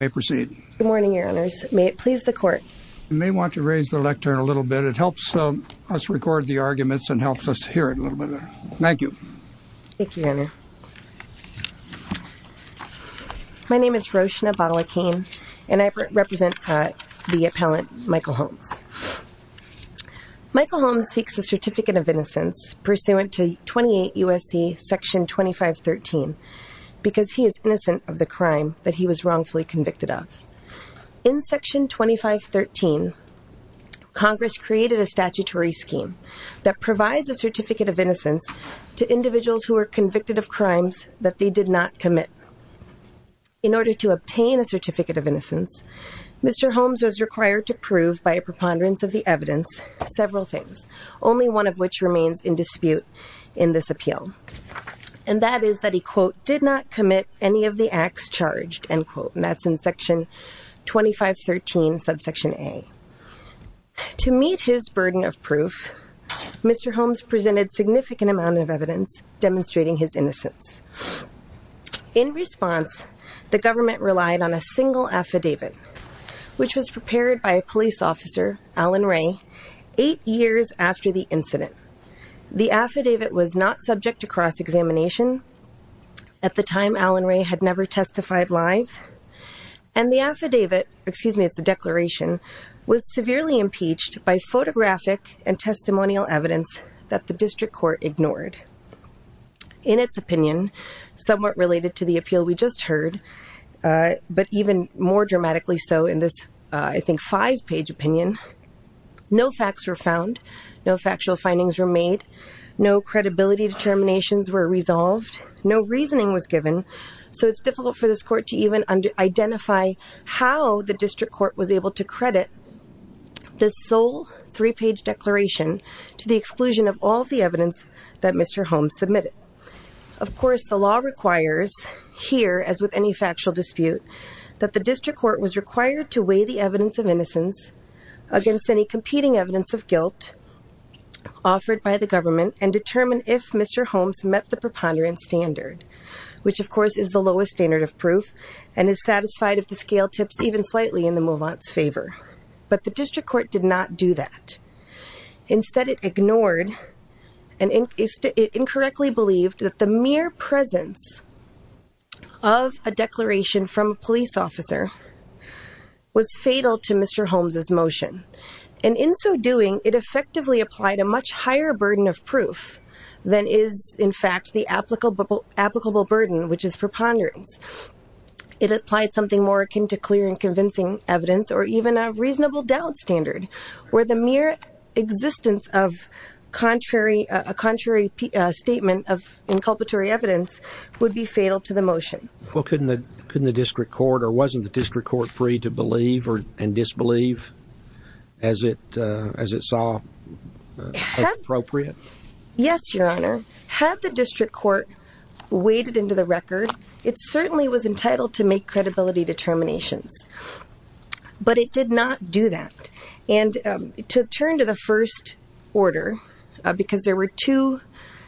may proceed. Good morning, your honors. May it please the court? You may want to raise the lectern a little bit. It helps us record the arguments and helps us hear it a little bit better. Thank you. Thank you, your honor. My name is Roshna Balakene and I represent the appellant Michael Holmes. Michael Holmes seeks a certificate of innocence pursuant to 28 U.S.C. section 2513 because he is innocent of the crime that he was wrongfully convicted of. In section 2513, Congress created a statutory scheme that provides a certificate of innocence to individuals who are convicted of crimes that they did not commit. In order to obtain a certificate of innocence, Mr. Holmes was required to prove by a preponderance of the evidence several things, only one of which remains in dispute in this appeal. And that is that he, quote, did not commit any of the acts charged, end quote. And that's in section 2513 subsection A. To meet his burden of proof, Mr. Holmes presented significant amount of evidence demonstrating his innocence. In response, the government relied on a single affidavit, which was prepared by a police officer, Alan Ray, eight years after the incident. The affidavit was not subject to cross-examination. At the time, Alan Ray had never testified live. And the affidavit, excuse me, it's a declaration, was severely impeached by photographic and testimonial evidence that the district court ignored. In its opinion, somewhat related to the appeal we just heard, but even more dramatically so in this, I think, five-page opinion, no facts were found. No factual findings were made. No credibility determinations were resolved. No reasoning was given. So it's difficult for this court to even identify how the district court was able to credit this sole three-page declaration to the exclusion of all the evidence that Mr. Holmes submitted. Of course, the law requires here, as with any factual dispute, that the district court was required to weigh the evidence of innocence against any competing evidence of guilt offered by the government and determine if Mr. Holmes met the preponderance standard. Which, of course, is the lowest standard of proof and is satisfied if the scale tips even slightly in the move-on's favor. But the district court did not do that. Instead, it ignored and it incorrectly believed that the mere presence of a declaration from a police officer was fatal to Mr. Holmes' motion. And in so doing, it effectively applied a much higher burden of proof than is, in fact, the applicable burden, which is preponderance. It applied something more akin to clear and convincing evidence or even a reasonable doubt standard, where the mere existence of a contrary statement of inculpatory evidence would be fatal to the motion. Well, couldn't the district court, or wasn't the district court, free to believe and disbelieve as it saw as appropriate? Yes, Your Honor. Had the district court weighed it into the record, it certainly was entitled to make credibility determinations. But it did not do that. And to turn to the first order, because there were two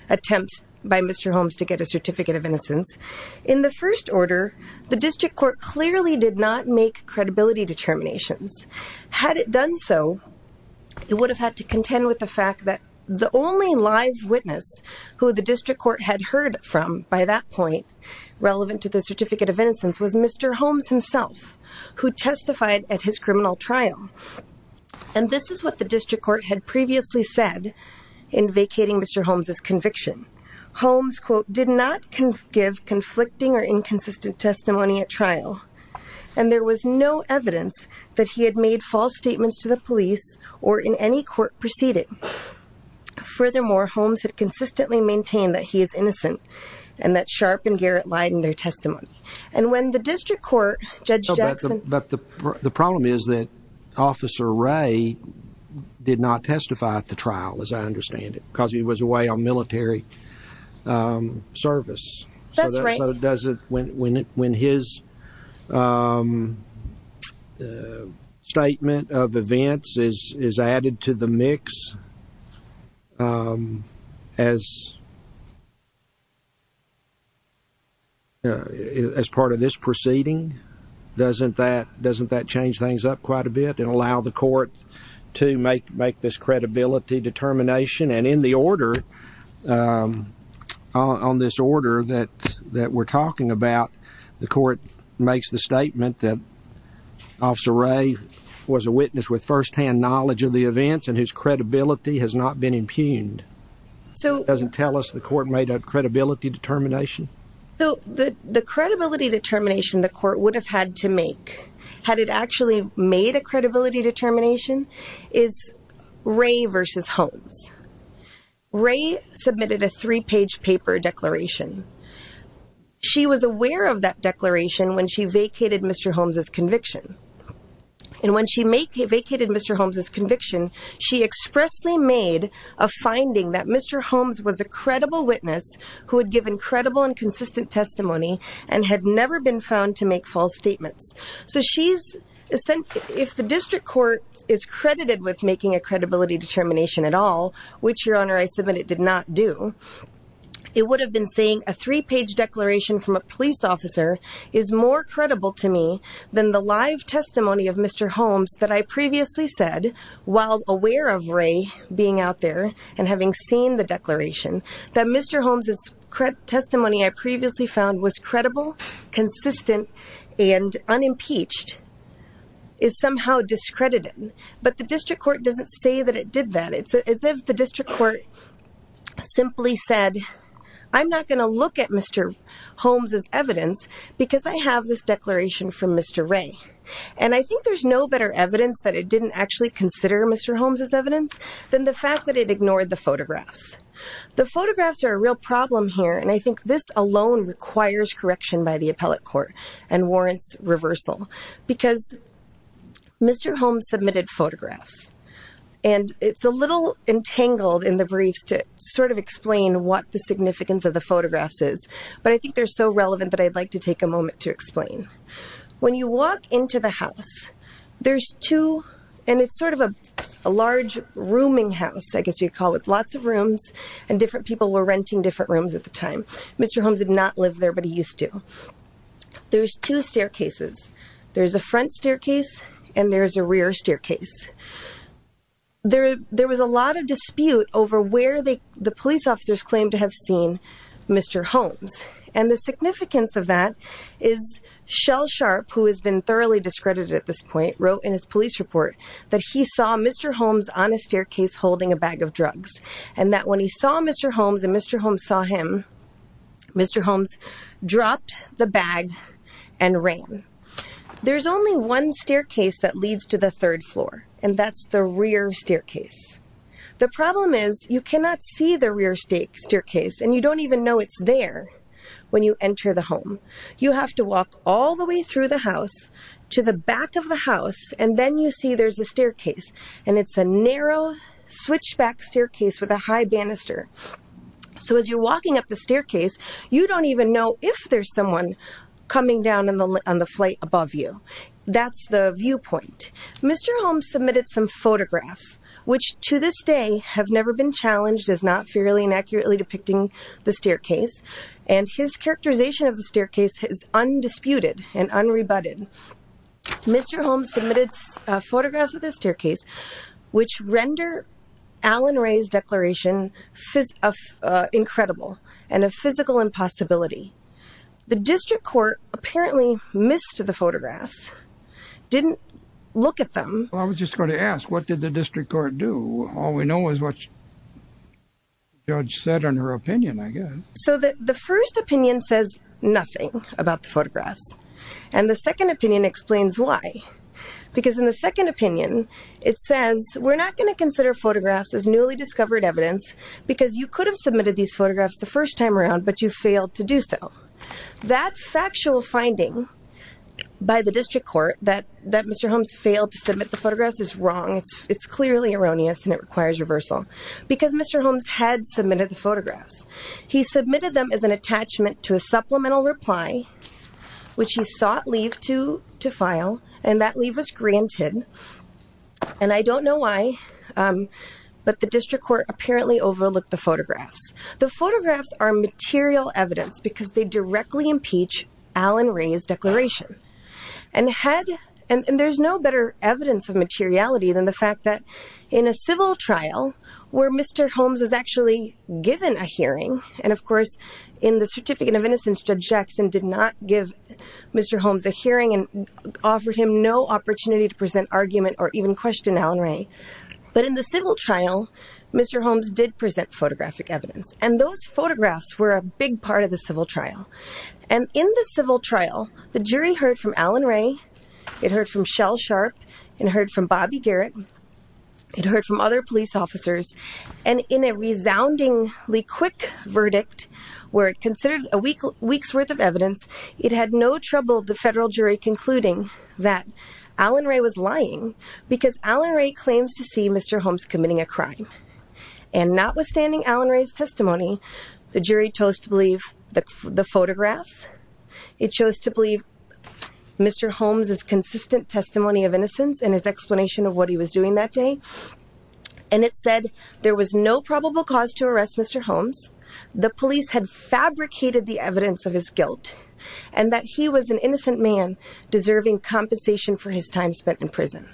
attempts by Mr. Holmes to get a certificate of innocence, in the first order, the district court clearly did not make credibility determinations. Had it done so, it would have had to contend with the fact that the only live witness who the district court had heard from by that point, relevant to the certificate of innocence, was Mr. Holmes himself, who testified at his criminal trial. And this is what the district court had previously said in vacating Mr. Holmes' conviction. Holmes, quote, did not give conflicting or inconsistent testimony at trial. And there was no evidence that he had made false statements to the police or in any court proceeding. Furthermore, Holmes had consistently maintained that he is innocent and that Sharp and Garrett lied in their testimony. And when the district court, Judge Jackson... But the problem is that Officer Ray did not testify at the trial, as I understand it, because he was away on military service. That's right. When his statement of events is added to the mix as part of this proceeding, doesn't that change things up quite a bit and allow the court to make this credibility determination? And in the order, on this order that we're talking about, the court makes the statement that Officer Ray was a witness with firsthand knowledge of the events and his credibility has not been impugned. So... It doesn't tell us the court made a credibility determination. The credibility determination the court would have had to make, had it actually made a credibility determination, is Ray versus Holmes. Ray submitted a three-page paper declaration. She was aware of that declaration when she vacated Mr. Holmes' conviction. And when she vacated Mr. Holmes' conviction, she expressly made a finding that Mr. Holmes was a credible witness who had given credible and consistent testimony and had never been found to make false statements. If the district court is credited with making a credibility determination at all, which, Your Honor, I submit it did not do, it would have been saying a three-page declaration from a police officer is more credible to me than the live testimony of Mr. Holmes that I previously said, while aware of Ray being out there and having seen the declaration, that Mr. Holmes' testimony I previously found was credible, consistent, and unimpeached, is somehow discredited. But the district court doesn't say that it did that. It's as if the district court simply said, I'm not going to look at Mr. Holmes' evidence because I have this declaration from Mr. Ray. And I think there's no better evidence that it didn't actually consider Mr. Holmes' evidence than the fact that it ignored the photographs. The photographs are a real problem here. And I think this alone requires correction by the appellate court and warrants reversal because Mr. Holmes submitted photographs. And it's a little entangled in the briefs to sort of explain what the significance of the photographs is. But I think they're so relevant that I'd like to take a moment to explain. When you walk into the house, there's two, and it's sort of a large rooming house, I guess you'd call it, lots of rooms. And different people were renting different rooms at the time. Mr. Holmes did not live there, but he used to. There's two staircases. There's a front staircase and there's a rear staircase. There was a lot of dispute over where the police officers claimed to have seen Mr. Holmes. And the significance of that is Shell Sharp, who has been thoroughly discredited at this point, wrote in his police report that he saw Mr. Holmes on a staircase holding a bag of drugs. And that when he saw Mr. Holmes and Mr. Holmes saw him, Mr. Holmes dropped the bag and ran. There's only one staircase that leads to the third floor, and that's the rear staircase. The problem is you cannot see the rear staircase, and you don't even know it's there when you enter the home. You have to walk all the way through the house to the back of the house, and then you see there's a staircase. And it's a narrow switchback staircase with a high banister. So as you're walking up the staircase, you don't even know if there's someone coming down on the flight above you. That's the viewpoint. Mr. Holmes submitted some photographs, which to this day have never been challenged as not fairly and accurately depicting the staircase. And his characterization of the staircase is undisputed and unrebutted. Mr. Holmes submitted photographs of the staircase, which render Alan Ray's declaration incredible and a physical impossibility. The district court apparently missed the photographs, didn't look at them. I was just going to ask, what did the district court do? All we know is what the judge said in her opinion, I guess. So the first opinion says nothing about the photographs, and the second opinion explains why. Because in the second opinion, it says, we're not going to consider photographs as newly discovered evidence, because you could have submitted these photographs the first time around, but you failed to do so. That factual finding by the district court that Mr. Holmes failed to submit the photographs is wrong. It's clearly erroneous, and it requires reversal. Because Mr. Holmes had submitted the photographs. He submitted them as an attachment to a supplemental reply, which he sought leave to file, and that leave was granted. And I don't know why, but the district court apparently overlooked the photographs. The photographs are material evidence, because they directly impeach Alan Ray's declaration. And there's no better evidence of materiality than the fact that in a civil trial, where Mr. Holmes was actually given a hearing, and of course, in the Certificate of Innocence, Judge Jackson did not give Mr. Holmes a hearing, and offered him no opportunity to present argument or even question Alan Ray. But in the civil trial, Mr. Holmes did present photographic evidence, and those photographs were a big part of the civil trial. And in the civil trial, the jury heard from Alan Ray, it heard from Shell Sharp, it heard from Bobby Garrett, it heard from other police officers, and in a resoundingly quick verdict, where it considered a week's worth of evidence, it had no trouble the federal jury concluding that Alan Ray was lying, because Alan Ray claims to see Mr. Holmes committing a crime. And notwithstanding Alan Ray's testimony, the jury chose to believe the photographs, it chose to believe Mr. Holmes' consistent testimony of innocence and his explanation of what he was doing that day, and it said there was no probable cause to arrest Mr. Holmes, the police had fabricated the evidence of his guilt, and that he was an innocent man deserving compensation for his time spent in prison.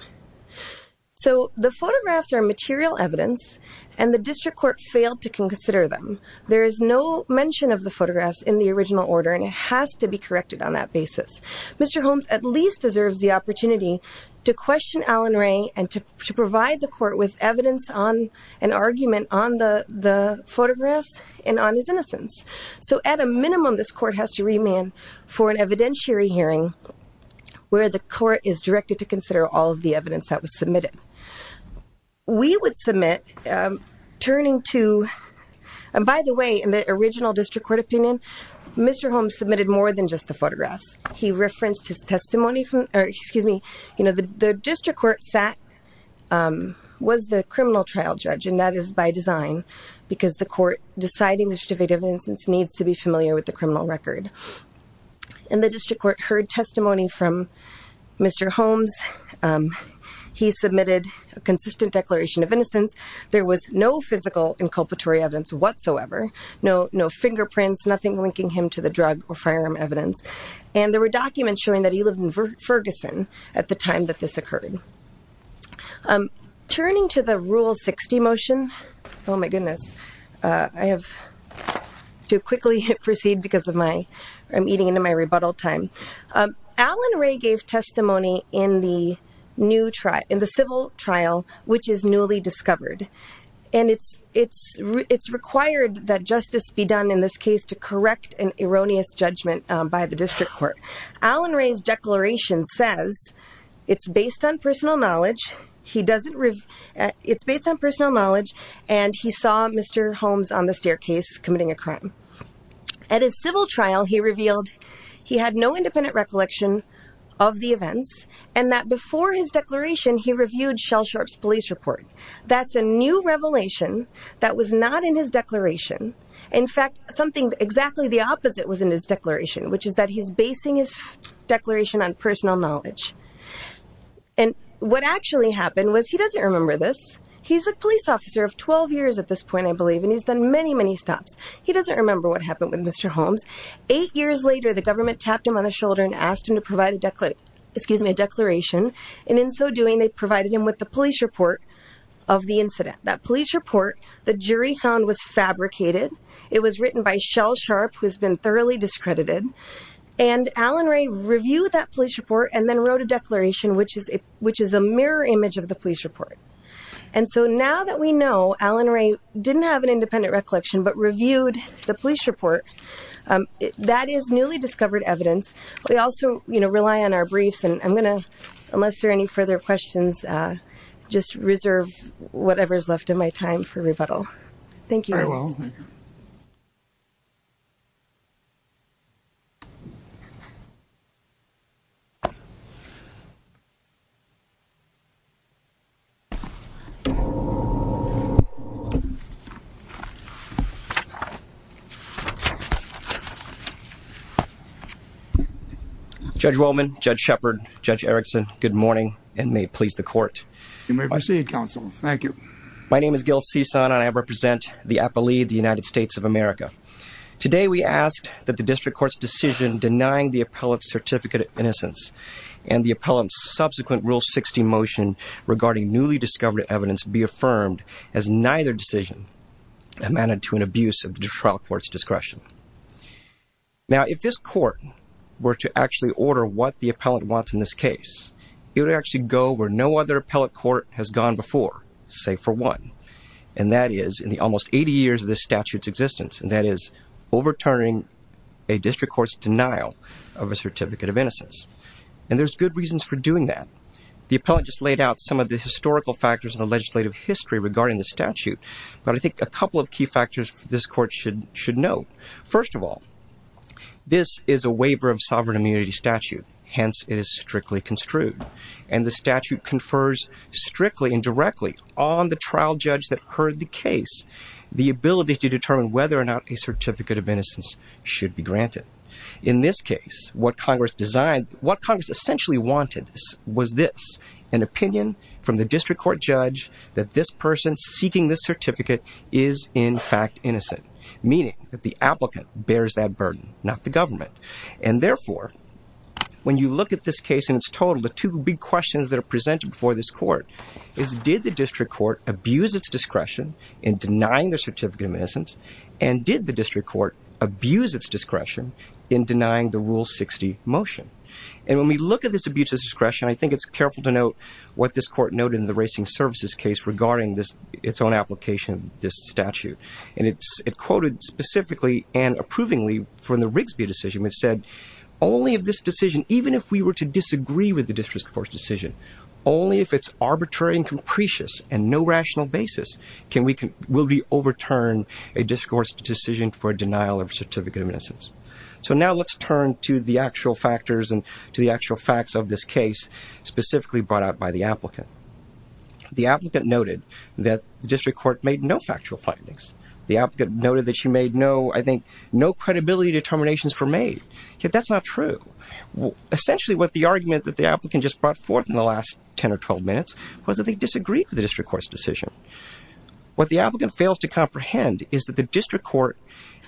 So the photographs are material evidence, and the district court failed to consider them. There is no mention of the photographs in the original order, and it has to be corrected on that basis. Mr. Holmes at least deserves the opportunity to question Alan Ray, and to provide the court with evidence on an argument on the photographs, and on his innocence. So at a minimum, this court has to remand for an evidentiary hearing, where the court is directed to consider all of the evidence that was submitted. We would submit, turning to, and by the way, in the original district court opinion, Mr. Holmes submitted more than just the photographs. He referenced his testimony from, or excuse me, you know, the district court sat, was the criminal trial judge, and that is by design, because the court deciding the certificate of innocence needs to be familiar with the criminal record. And the district court heard testimony from Mr. Holmes. He submitted a consistent declaration of innocence. There was no physical inculpatory evidence whatsoever, no fingerprints, nothing linking him to the drug or firearm evidence, and there were documents showing that he lived in Ferguson at the time that this occurred. Turning to the Rule 60 motion, oh my goodness, I have to quickly proceed because I'm eating into my rebuttal time. Alan Ray gave testimony in the civil trial, which is newly discovered, and it's required that justice be done in this case to correct an erroneous judgment by the district court. Alan Ray's declaration says it's based on personal knowledge. He doesn't, it's based on personal knowledge, and he saw Mr. Holmes on the staircase committing a crime. At his civil trial, he revealed he had no independent recollection of the events, and that before his declaration, he reviewed Shell Sharp's police report. That's a new revelation that was not in his declaration. In fact, something exactly the opposite was in his declaration, which is that he's basing his declaration on personal knowledge, and what actually happened was he doesn't remember this. He's a police officer of 12 years at this point, I believe, and he's done many, many stops. He doesn't remember what happened with Mr. Holmes. Eight years later, the government tapped him on the shoulder and asked him to provide a declaration, and in so doing, they provided him with the police report of the incident. That police report, the jury found, was fabricated. It was written by Shell Sharp, who has been thoroughly discredited, and Alan Ray reviewed that police report and then wrote a declaration, which is a mirror image of the police report. And so now that we know Alan Ray didn't have an independent recollection but reviewed the police report, that is newly discovered evidence. We also rely on our briefs, and I'm going to, unless there are any further questions, just reserve whatever is left of my time for rebuttal. Thank you. Very well. Judge Wollman, Judge Shepard, Judge Erickson, good morning, and may it please the court. You may proceed, counsel. Thank you. My name is Gil Cisan, and I represent the appellee of the United States of America. Today we ask that the district court's decision denying the appellant's certificate of innocence and the appellant's subsequent Rule 60 motion regarding newly discovered evidence be affirmed as neither decision amended to an abuse of the trial court's discretion. Now, if this court were to actually order what the appellant wants in this case, it would actually go where no other appellate court has gone before, save for one, and that is in the almost 80 years of this statute's existence, and that is overturning a district court's denial of a certificate of innocence. And there's good reasons for doing that. The appellant just laid out some of the historical factors in the legislative history regarding the statute, but I think a couple of key factors this court should note. First of all, this is a waiver of sovereign immunity statute, hence it is strictly construed, and the statute confers strictly and directly on the trial judge that heard the case the ability to determine whether or not a certificate of innocence should be granted. In this case, what Congress essentially wanted was this, an opinion from the district court judge that this person seeking this certificate is in fact innocent, meaning that the applicant bears that burden, not the government. And therefore, when you look at this case in its total, the two big questions that are presented before this court is, did the district court abuse its discretion in denying the certificate of innocence, and did the district court abuse its discretion in denying the Rule 60 motion? And when we look at this abuse of discretion, I think it's careful to note what this court noted in the Racing Services case regarding its own application of this statute. And it quoted specifically and approvingly from the Rigsby decision, which said only if this decision, even if we were to disagree with the district court's decision, only if it's arbitrary and capricious and no rational basis will we overturn a district court's decision for a denial of a certificate of innocence. So now let's turn to the actual factors and to the actual facts of this case specifically brought out by the applicant. The applicant noted that the district court made no factual findings. The applicant noted that she made no, I think, no credibility determinations were made. Yet that's not true. Essentially, what the argument that the applicant just brought forth in the last 10 or 12 minutes was that they disagreed with the district court's decision. What the applicant fails to comprehend is that the district court,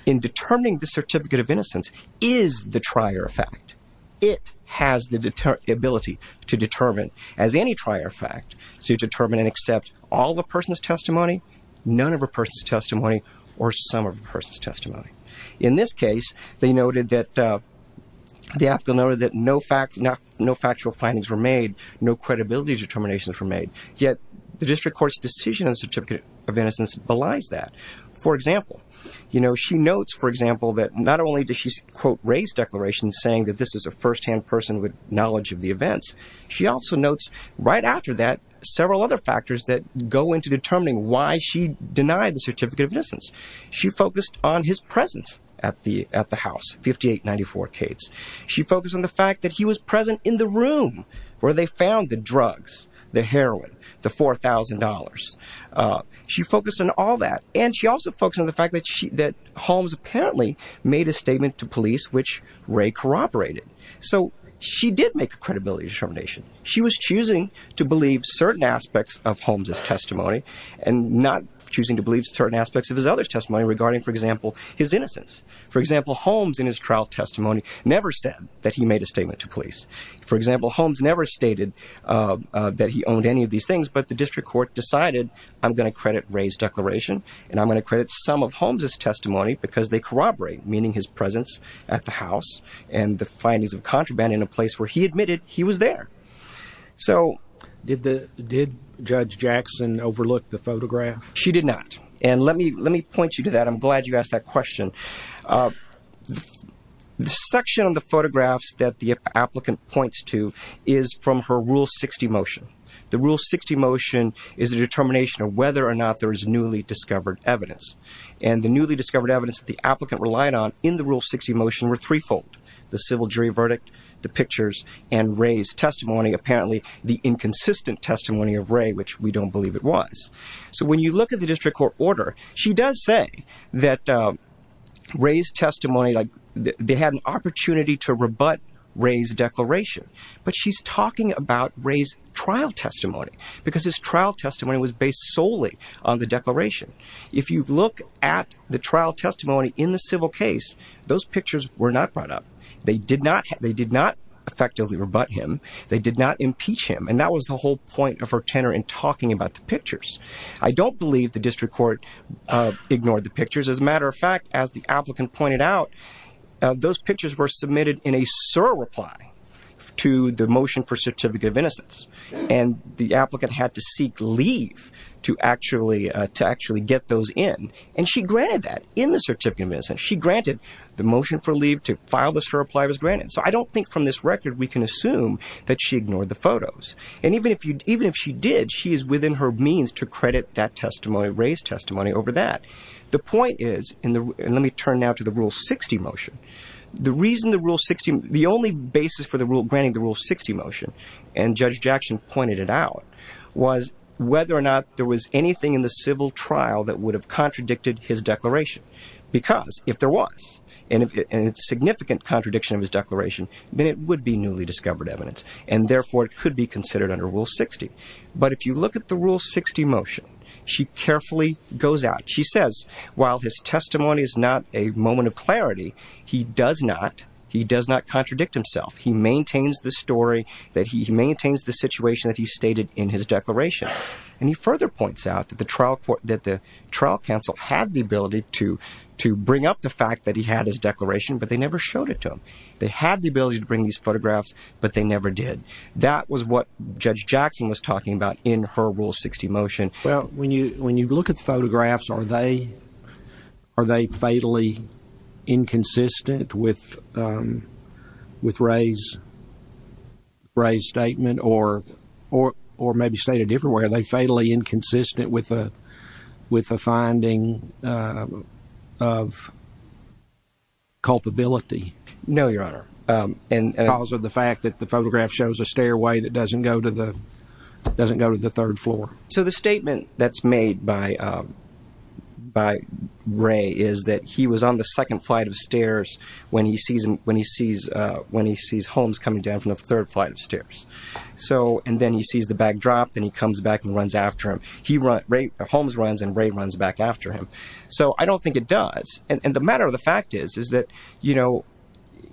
in determining the certificate of innocence, is the trier of fact. It has the ability to determine, as any trier of fact, to determine and accept all of a person's testimony, none of a person's testimony, or some of a person's testimony. In this case, the applicant noted that no factual findings were made, no credibility determinations were made. Yet the district court's decision on the certificate of innocence belies that. For example, she notes, for example, that not only does she quote raise declarations saying that this is a first-hand person with knowledge of the events, she also notes right after that several other factors that go into determining why she denied the certificate of innocence. She focused on his presence at the house, 5894 Cades. She focused on the fact that he was present in the room where they found the drugs, the heroin, the $4,000. She focused on all that, and she also focused on the fact that Holmes apparently made a statement to police which Ray corroborated. So she did make a credibility determination. She was choosing to believe certain aspects of Holmes' testimony and not choosing to believe certain aspects of his other testimony regarding, for example, his innocence. For example, Holmes, in his trial testimony, never said that he made a statement to police. For example, Holmes never stated that he owned any of these things, but the district court decided I'm going to credit Ray's declaration and I'm going to credit some of Holmes' testimony because they corroborate, meaning his presence at the house and the findings of contraband in a place where he admitted he was there. So did Judge Jackson overlook the photograph? She did not, and let me point you to that. I'm glad you asked that question. The section of the photographs that the applicant points to is from her Rule 60 motion. The Rule 60 motion is a determination of whether or not there is newly discovered evidence, and the newly discovered evidence that the applicant relied on in the Rule 60 motion were threefold, the civil jury verdict, the pictures, and Ray's testimony, apparently the inconsistent testimony of Ray, which we don't believe it was. So when you look at the district court order, she does say that Ray's testimony, like they had an opportunity to rebut Ray's declaration, but she's talking about Ray's trial testimony because his trial testimony was based solely on the declaration. If you look at the trial testimony in the civil case, those pictures were not brought up. They did not effectively rebut him. They did not impeach him, and that was the whole point of her tenor in talking about the pictures. I don't believe the district court ignored the pictures. As a matter of fact, as the applicant pointed out, those pictures were submitted in a surreply to the motion for certificate of innocence, and the applicant had to seek leave to actually get those in, and she granted that in the certificate of innocence. She granted the motion for leave to file the surreply was granted. So I don't think from this record we can assume that she ignored the photos, and even if she did, she is within her means to credit that testimony, Ray's testimony, over that. The point is, and let me turn now to the Rule 60 motion, the reason the Rule 60, the only basis for granting the Rule 60 motion, and Judge Jackson pointed it out, was whether or not there was anything in the civil trial that would have contradicted his declaration, because if there was and it's a significant contradiction of his declaration, then it would be newly discovered evidence, and therefore it could be considered under Rule 60. But if you look at the Rule 60 motion, she carefully goes out. She says, while his testimony is not a moment of clarity, he does not contradict himself. He maintains the story, that he maintains the situation that he stated in his declaration, and he further points out that the trial counsel had the ability to bring up the fact that he had his declaration, but they never showed it to him. They had the ability to bring these photographs, but they never did. That was what Judge Jackson was talking about in her Rule 60 motion. Well, when you look at the photographs, are they fatally inconsistent with Ray's statement, or maybe stated differently, are they fatally inconsistent with the finding of culpability? No, Your Honor. Because of the fact that the photograph shows a stairway that doesn't go to the third floor. So the statement that's made by Ray is that he was on the second flight of stairs when he sees Holmes coming down from the third flight of stairs. And then he sees the bag drop, then he comes back and runs after him. Holmes runs, and Ray runs back after him. So I don't think it does. And the matter of the fact is that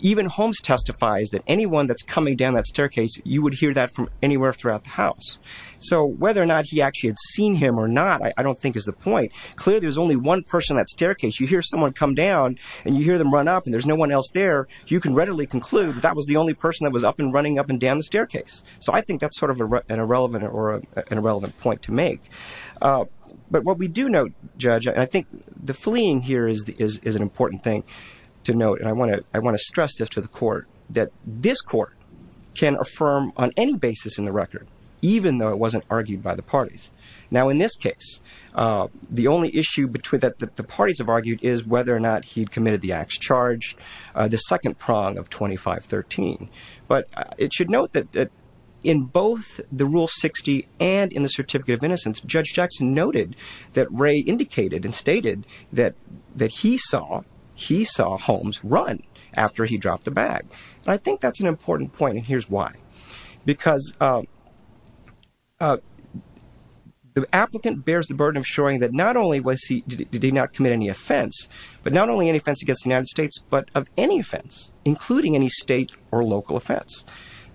even Holmes testifies that anyone that's coming down that staircase, you would hear that from anywhere throughout the house. So whether or not he actually had seen him or not, I don't think is the point. Clearly, there's only one person on that staircase. You hear someone come down, and you hear them run up, and there's no one else there, you can readily conclude that that was the only person that was up and running up and down the staircase. So I think that's sort of an irrelevant point to make. But what we do note, Judge, and I think the fleeing here is an important thing to note, and I want to stress this to the Court, that this Court can affirm on any basis in the record, even though it wasn't argued by the parties. Now, in this case, the only issue that the parties have argued is whether or not he'd committed the acts charged, the second prong of 2513. But it should note that in both the Rule 60 and in the Certificate of Innocence, Judge Jackson noted that Ray indicated and stated that he saw Holmes run after he dropped the bag. And I think that's an important point, and here's why. Because the applicant bears the burden of showing that not only did he not commit any offense, but not only any offense against the United States, but of any offense, including any state or local offense.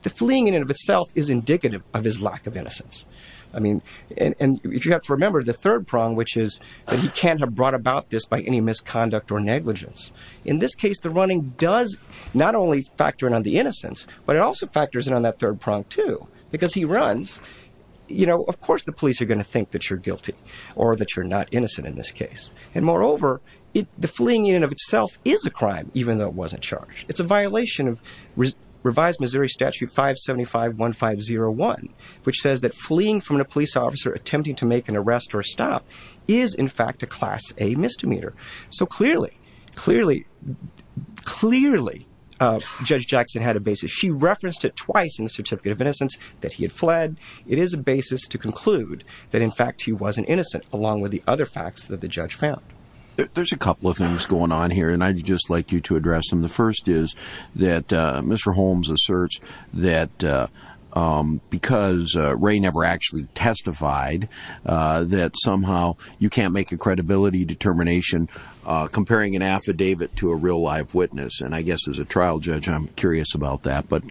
The fleeing in and of itself is indicative of his lack of innocence. And you have to remember the third prong, which is that he can't have brought about this by any misconduct or negligence. In this case, the running does not only factor in on the innocence, but it also factors in on that third prong, too. Because he runs, you know, of course the police are going to think that you're guilty or that you're not innocent in this case. And moreover, the fleeing in and of itself is a crime, even though it wasn't charged. It's a violation of Revised Missouri Statute 575.1501, which says that fleeing from a police officer attempting to make an arrest or stop is, in fact, a Class A misdemeanor. So clearly, clearly, clearly Judge Jackson had a basis. She referenced it twice in the Certificate of Innocence that he had fled. It is a basis to conclude that, in fact, he wasn't innocent, along with the other facts that the judge found. There's a couple of things going on here, and I'd just like you to address them. The first is that Mr. Holmes asserts that because Ray never actually testified, that somehow you can't make a credibility determination comparing an affidavit to a real live witness. And I guess as a trial judge, I'm curious about that. But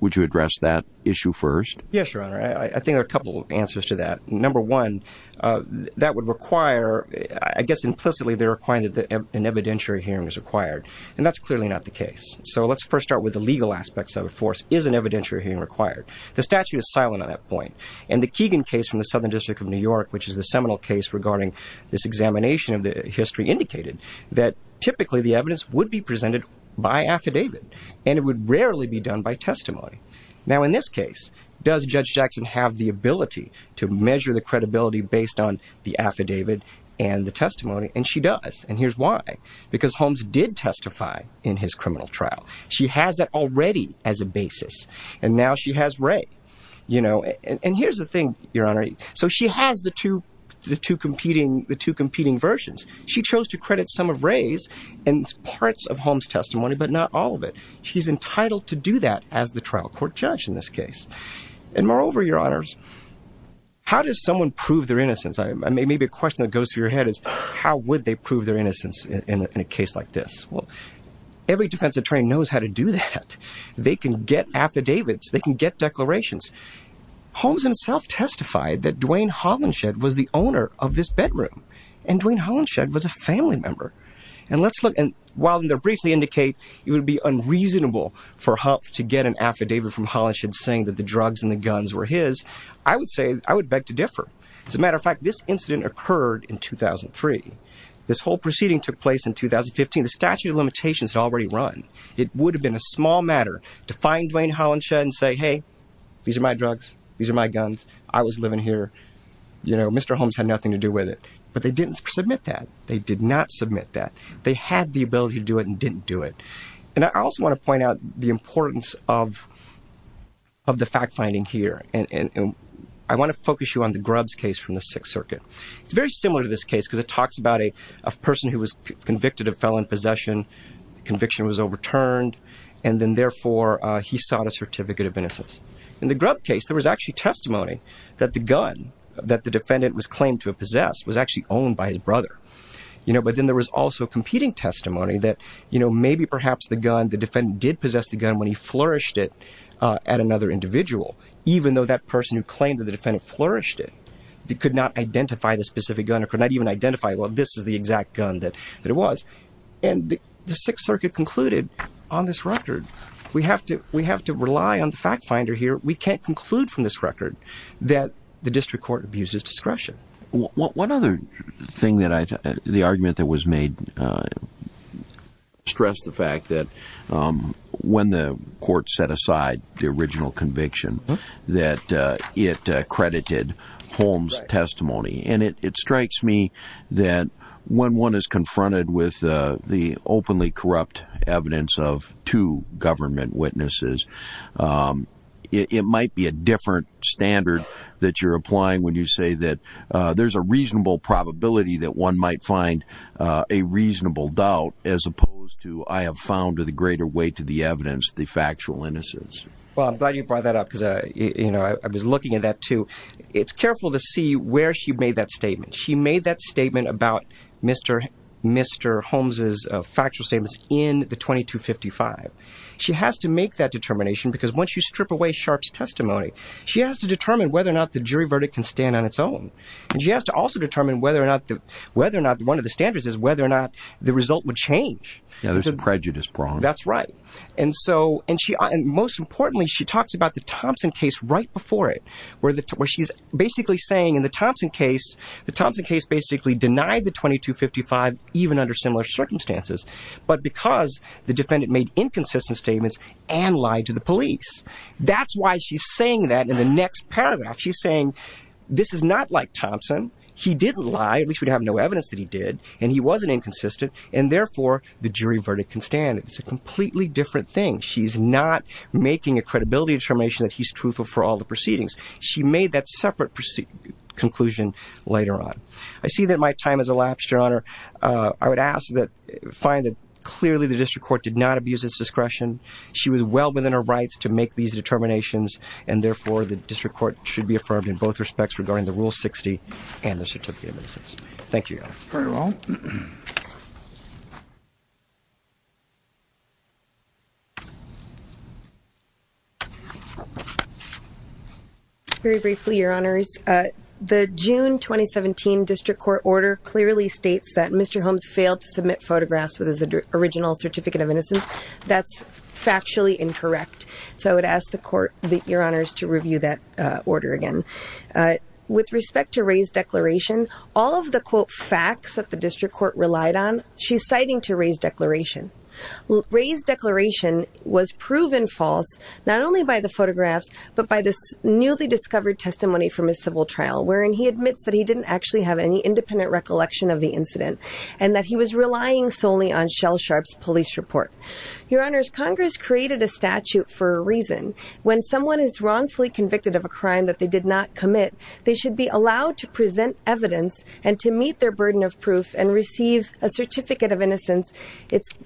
would you address that issue first? Yes, Your Honor. I think there are a couple of answers to that. Number one, that would require, I guess implicitly they're requiring that an evidentiary hearing is required. And that's clearly not the case. So let's first start with the legal aspects of it. First, is an evidentiary hearing required? The statute is silent on that point. And the Keegan case from the Southern District of New York, which is the seminal case regarding this examination of the history, indicated that typically the evidence would be presented by affidavit, and it would rarely be done by testimony. Now, in this case, does Judge Jackson have the ability to measure the credibility based on the affidavit and the testimony? And she does. And here's why. Because Holmes did testify in his criminal trial. She has that already as a basis. And now she has Ray. And here's the thing, Your Honor. So she has the two competing versions. She chose to credit some of Ray's and parts of Holmes' testimony, but not all of it. She's entitled to do that as the trial court judge in this case. And moreover, Your Honors, how does someone prove their innocence? Maybe a question that goes through your head is how would they prove their innocence in a case like this? Well, every defense attorney knows how to do that. They can get affidavits. They can get declarations. Holmes himself testified that Duane Holinshed was the owner of this bedroom, and Duane Holinshed was a family member. And let's look. And while in their briefs they indicate it would be unreasonable for Humph to get an affidavit from Holinshed saying that the drugs and the guns were his, I would say I would beg to differ. As a matter of fact, this incident occurred in 2003. This whole proceeding took place in 2015. The statute of limitations had already run. It would have been a small matter to find Duane Holinshed and say, hey, these are my drugs. These are my guns. I was living here. You know, Mr. Holmes had nothing to do with it. But they didn't submit that. They did not submit that. They had the ability to do it and didn't do it. And I also want to point out the importance of the fact-finding here. And I want to focus you on the Grubbs case from the Sixth Circuit. It's very similar to this case because it talks about a person who was convicted of felon possession. The conviction was overturned. And then, therefore, he sought a certificate of innocence. In the Grubbs case, there was actually testimony that the gun that the defendant was claimed to have possessed was actually owned by his brother. You know, but then there was also competing testimony that, you know, maybe perhaps the gun, the defendant did possess the gun when he flourished it at another individual, even though that person who claimed that the defendant flourished it could not identify the specific gun or could not even identify, well, this is the exact gun that it was. And the Sixth Circuit concluded on this record, we have to rely on the fact-finder here. We can't conclude from this record that the district court abuses discretion. One other thing that I thought, the argument that was made stressed the fact that when the court set aside the original conviction that it credited Holmes' testimony. And it strikes me that when one is confronted with the openly corrupt evidence of two government witnesses, it might be a different standard that you're applying when you say that there's a reasonable probability that one might find a reasonable doubt as opposed to, I have found a greater weight to the evidence, the factual innocence. Well, I'm glad you brought that up because, you know, I was looking at that, too. It's careful to see where she made that statement. She made that statement about Mr. Holmes' factual statements in the 2255. She has to make that determination because once you strip away Sharpe's testimony, she has to determine whether or not the jury verdict can stand on its own. And she has to also determine whether or not one of the standards is whether or not the result would change. Yeah, there's a prejudice problem. That's right. And most importantly, she talks about the Thompson case right before it, where she's basically saying in the Thompson case, the Thompson case basically denied the 2255 even under similar circumstances, but because the defendant made inconsistent statements and lied to the police. That's why she's saying that in the next paragraph. She's saying this is not like Thompson. He didn't lie. At least we have no evidence that he did. And he wasn't inconsistent. And therefore, the jury verdict can stand. It's a completely different thing. She's not making a credibility determination that he's truthful for all the proceedings. She made that separate conclusion later on. I see that my time has elapsed, Your Honor. I would ask that, find that clearly the district court did not abuse its discretion. She was well within her rights to make these determinations, and therefore, the district court should be affirmed in both respects regarding the Rule 60 and the certificate of innocence. Thank you, Your Honor. Very well. Very briefly, Your Honors. The June 2017 district court order clearly states that Mr. Holmes failed to submit photographs with his original certificate of innocence. That's factually incorrect. So I would ask the court, Your Honors, to review that order again. With respect to Ray's declaration, all of the, quote, facts that the district court relied on, she's citing to Ray's declaration. Ray's declaration was proven false not only by the photographs but by the newly discovered testimony from his civil trial, wherein he admits that he didn't actually have any independent recollection of the incident and that he was relying solely on Shell Sharp's police report. Your Honors, Congress created a statute for a reason. When someone is wrongfully convicted of a crime that they did not commit, they should be allowed to present evidence and to meet their burden of proof and receive a certificate of innocence. It's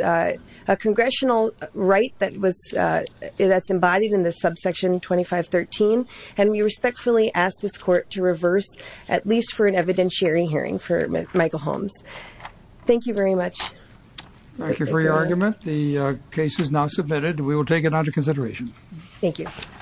a congressional right that's embodied in this subsection 2513, and we respectfully ask this court to reverse, at least for an evidentiary hearing for Michael Holmes. Thank you very much. Thank you for your argument. The case is now submitted. We will take it under consideration. Thank you.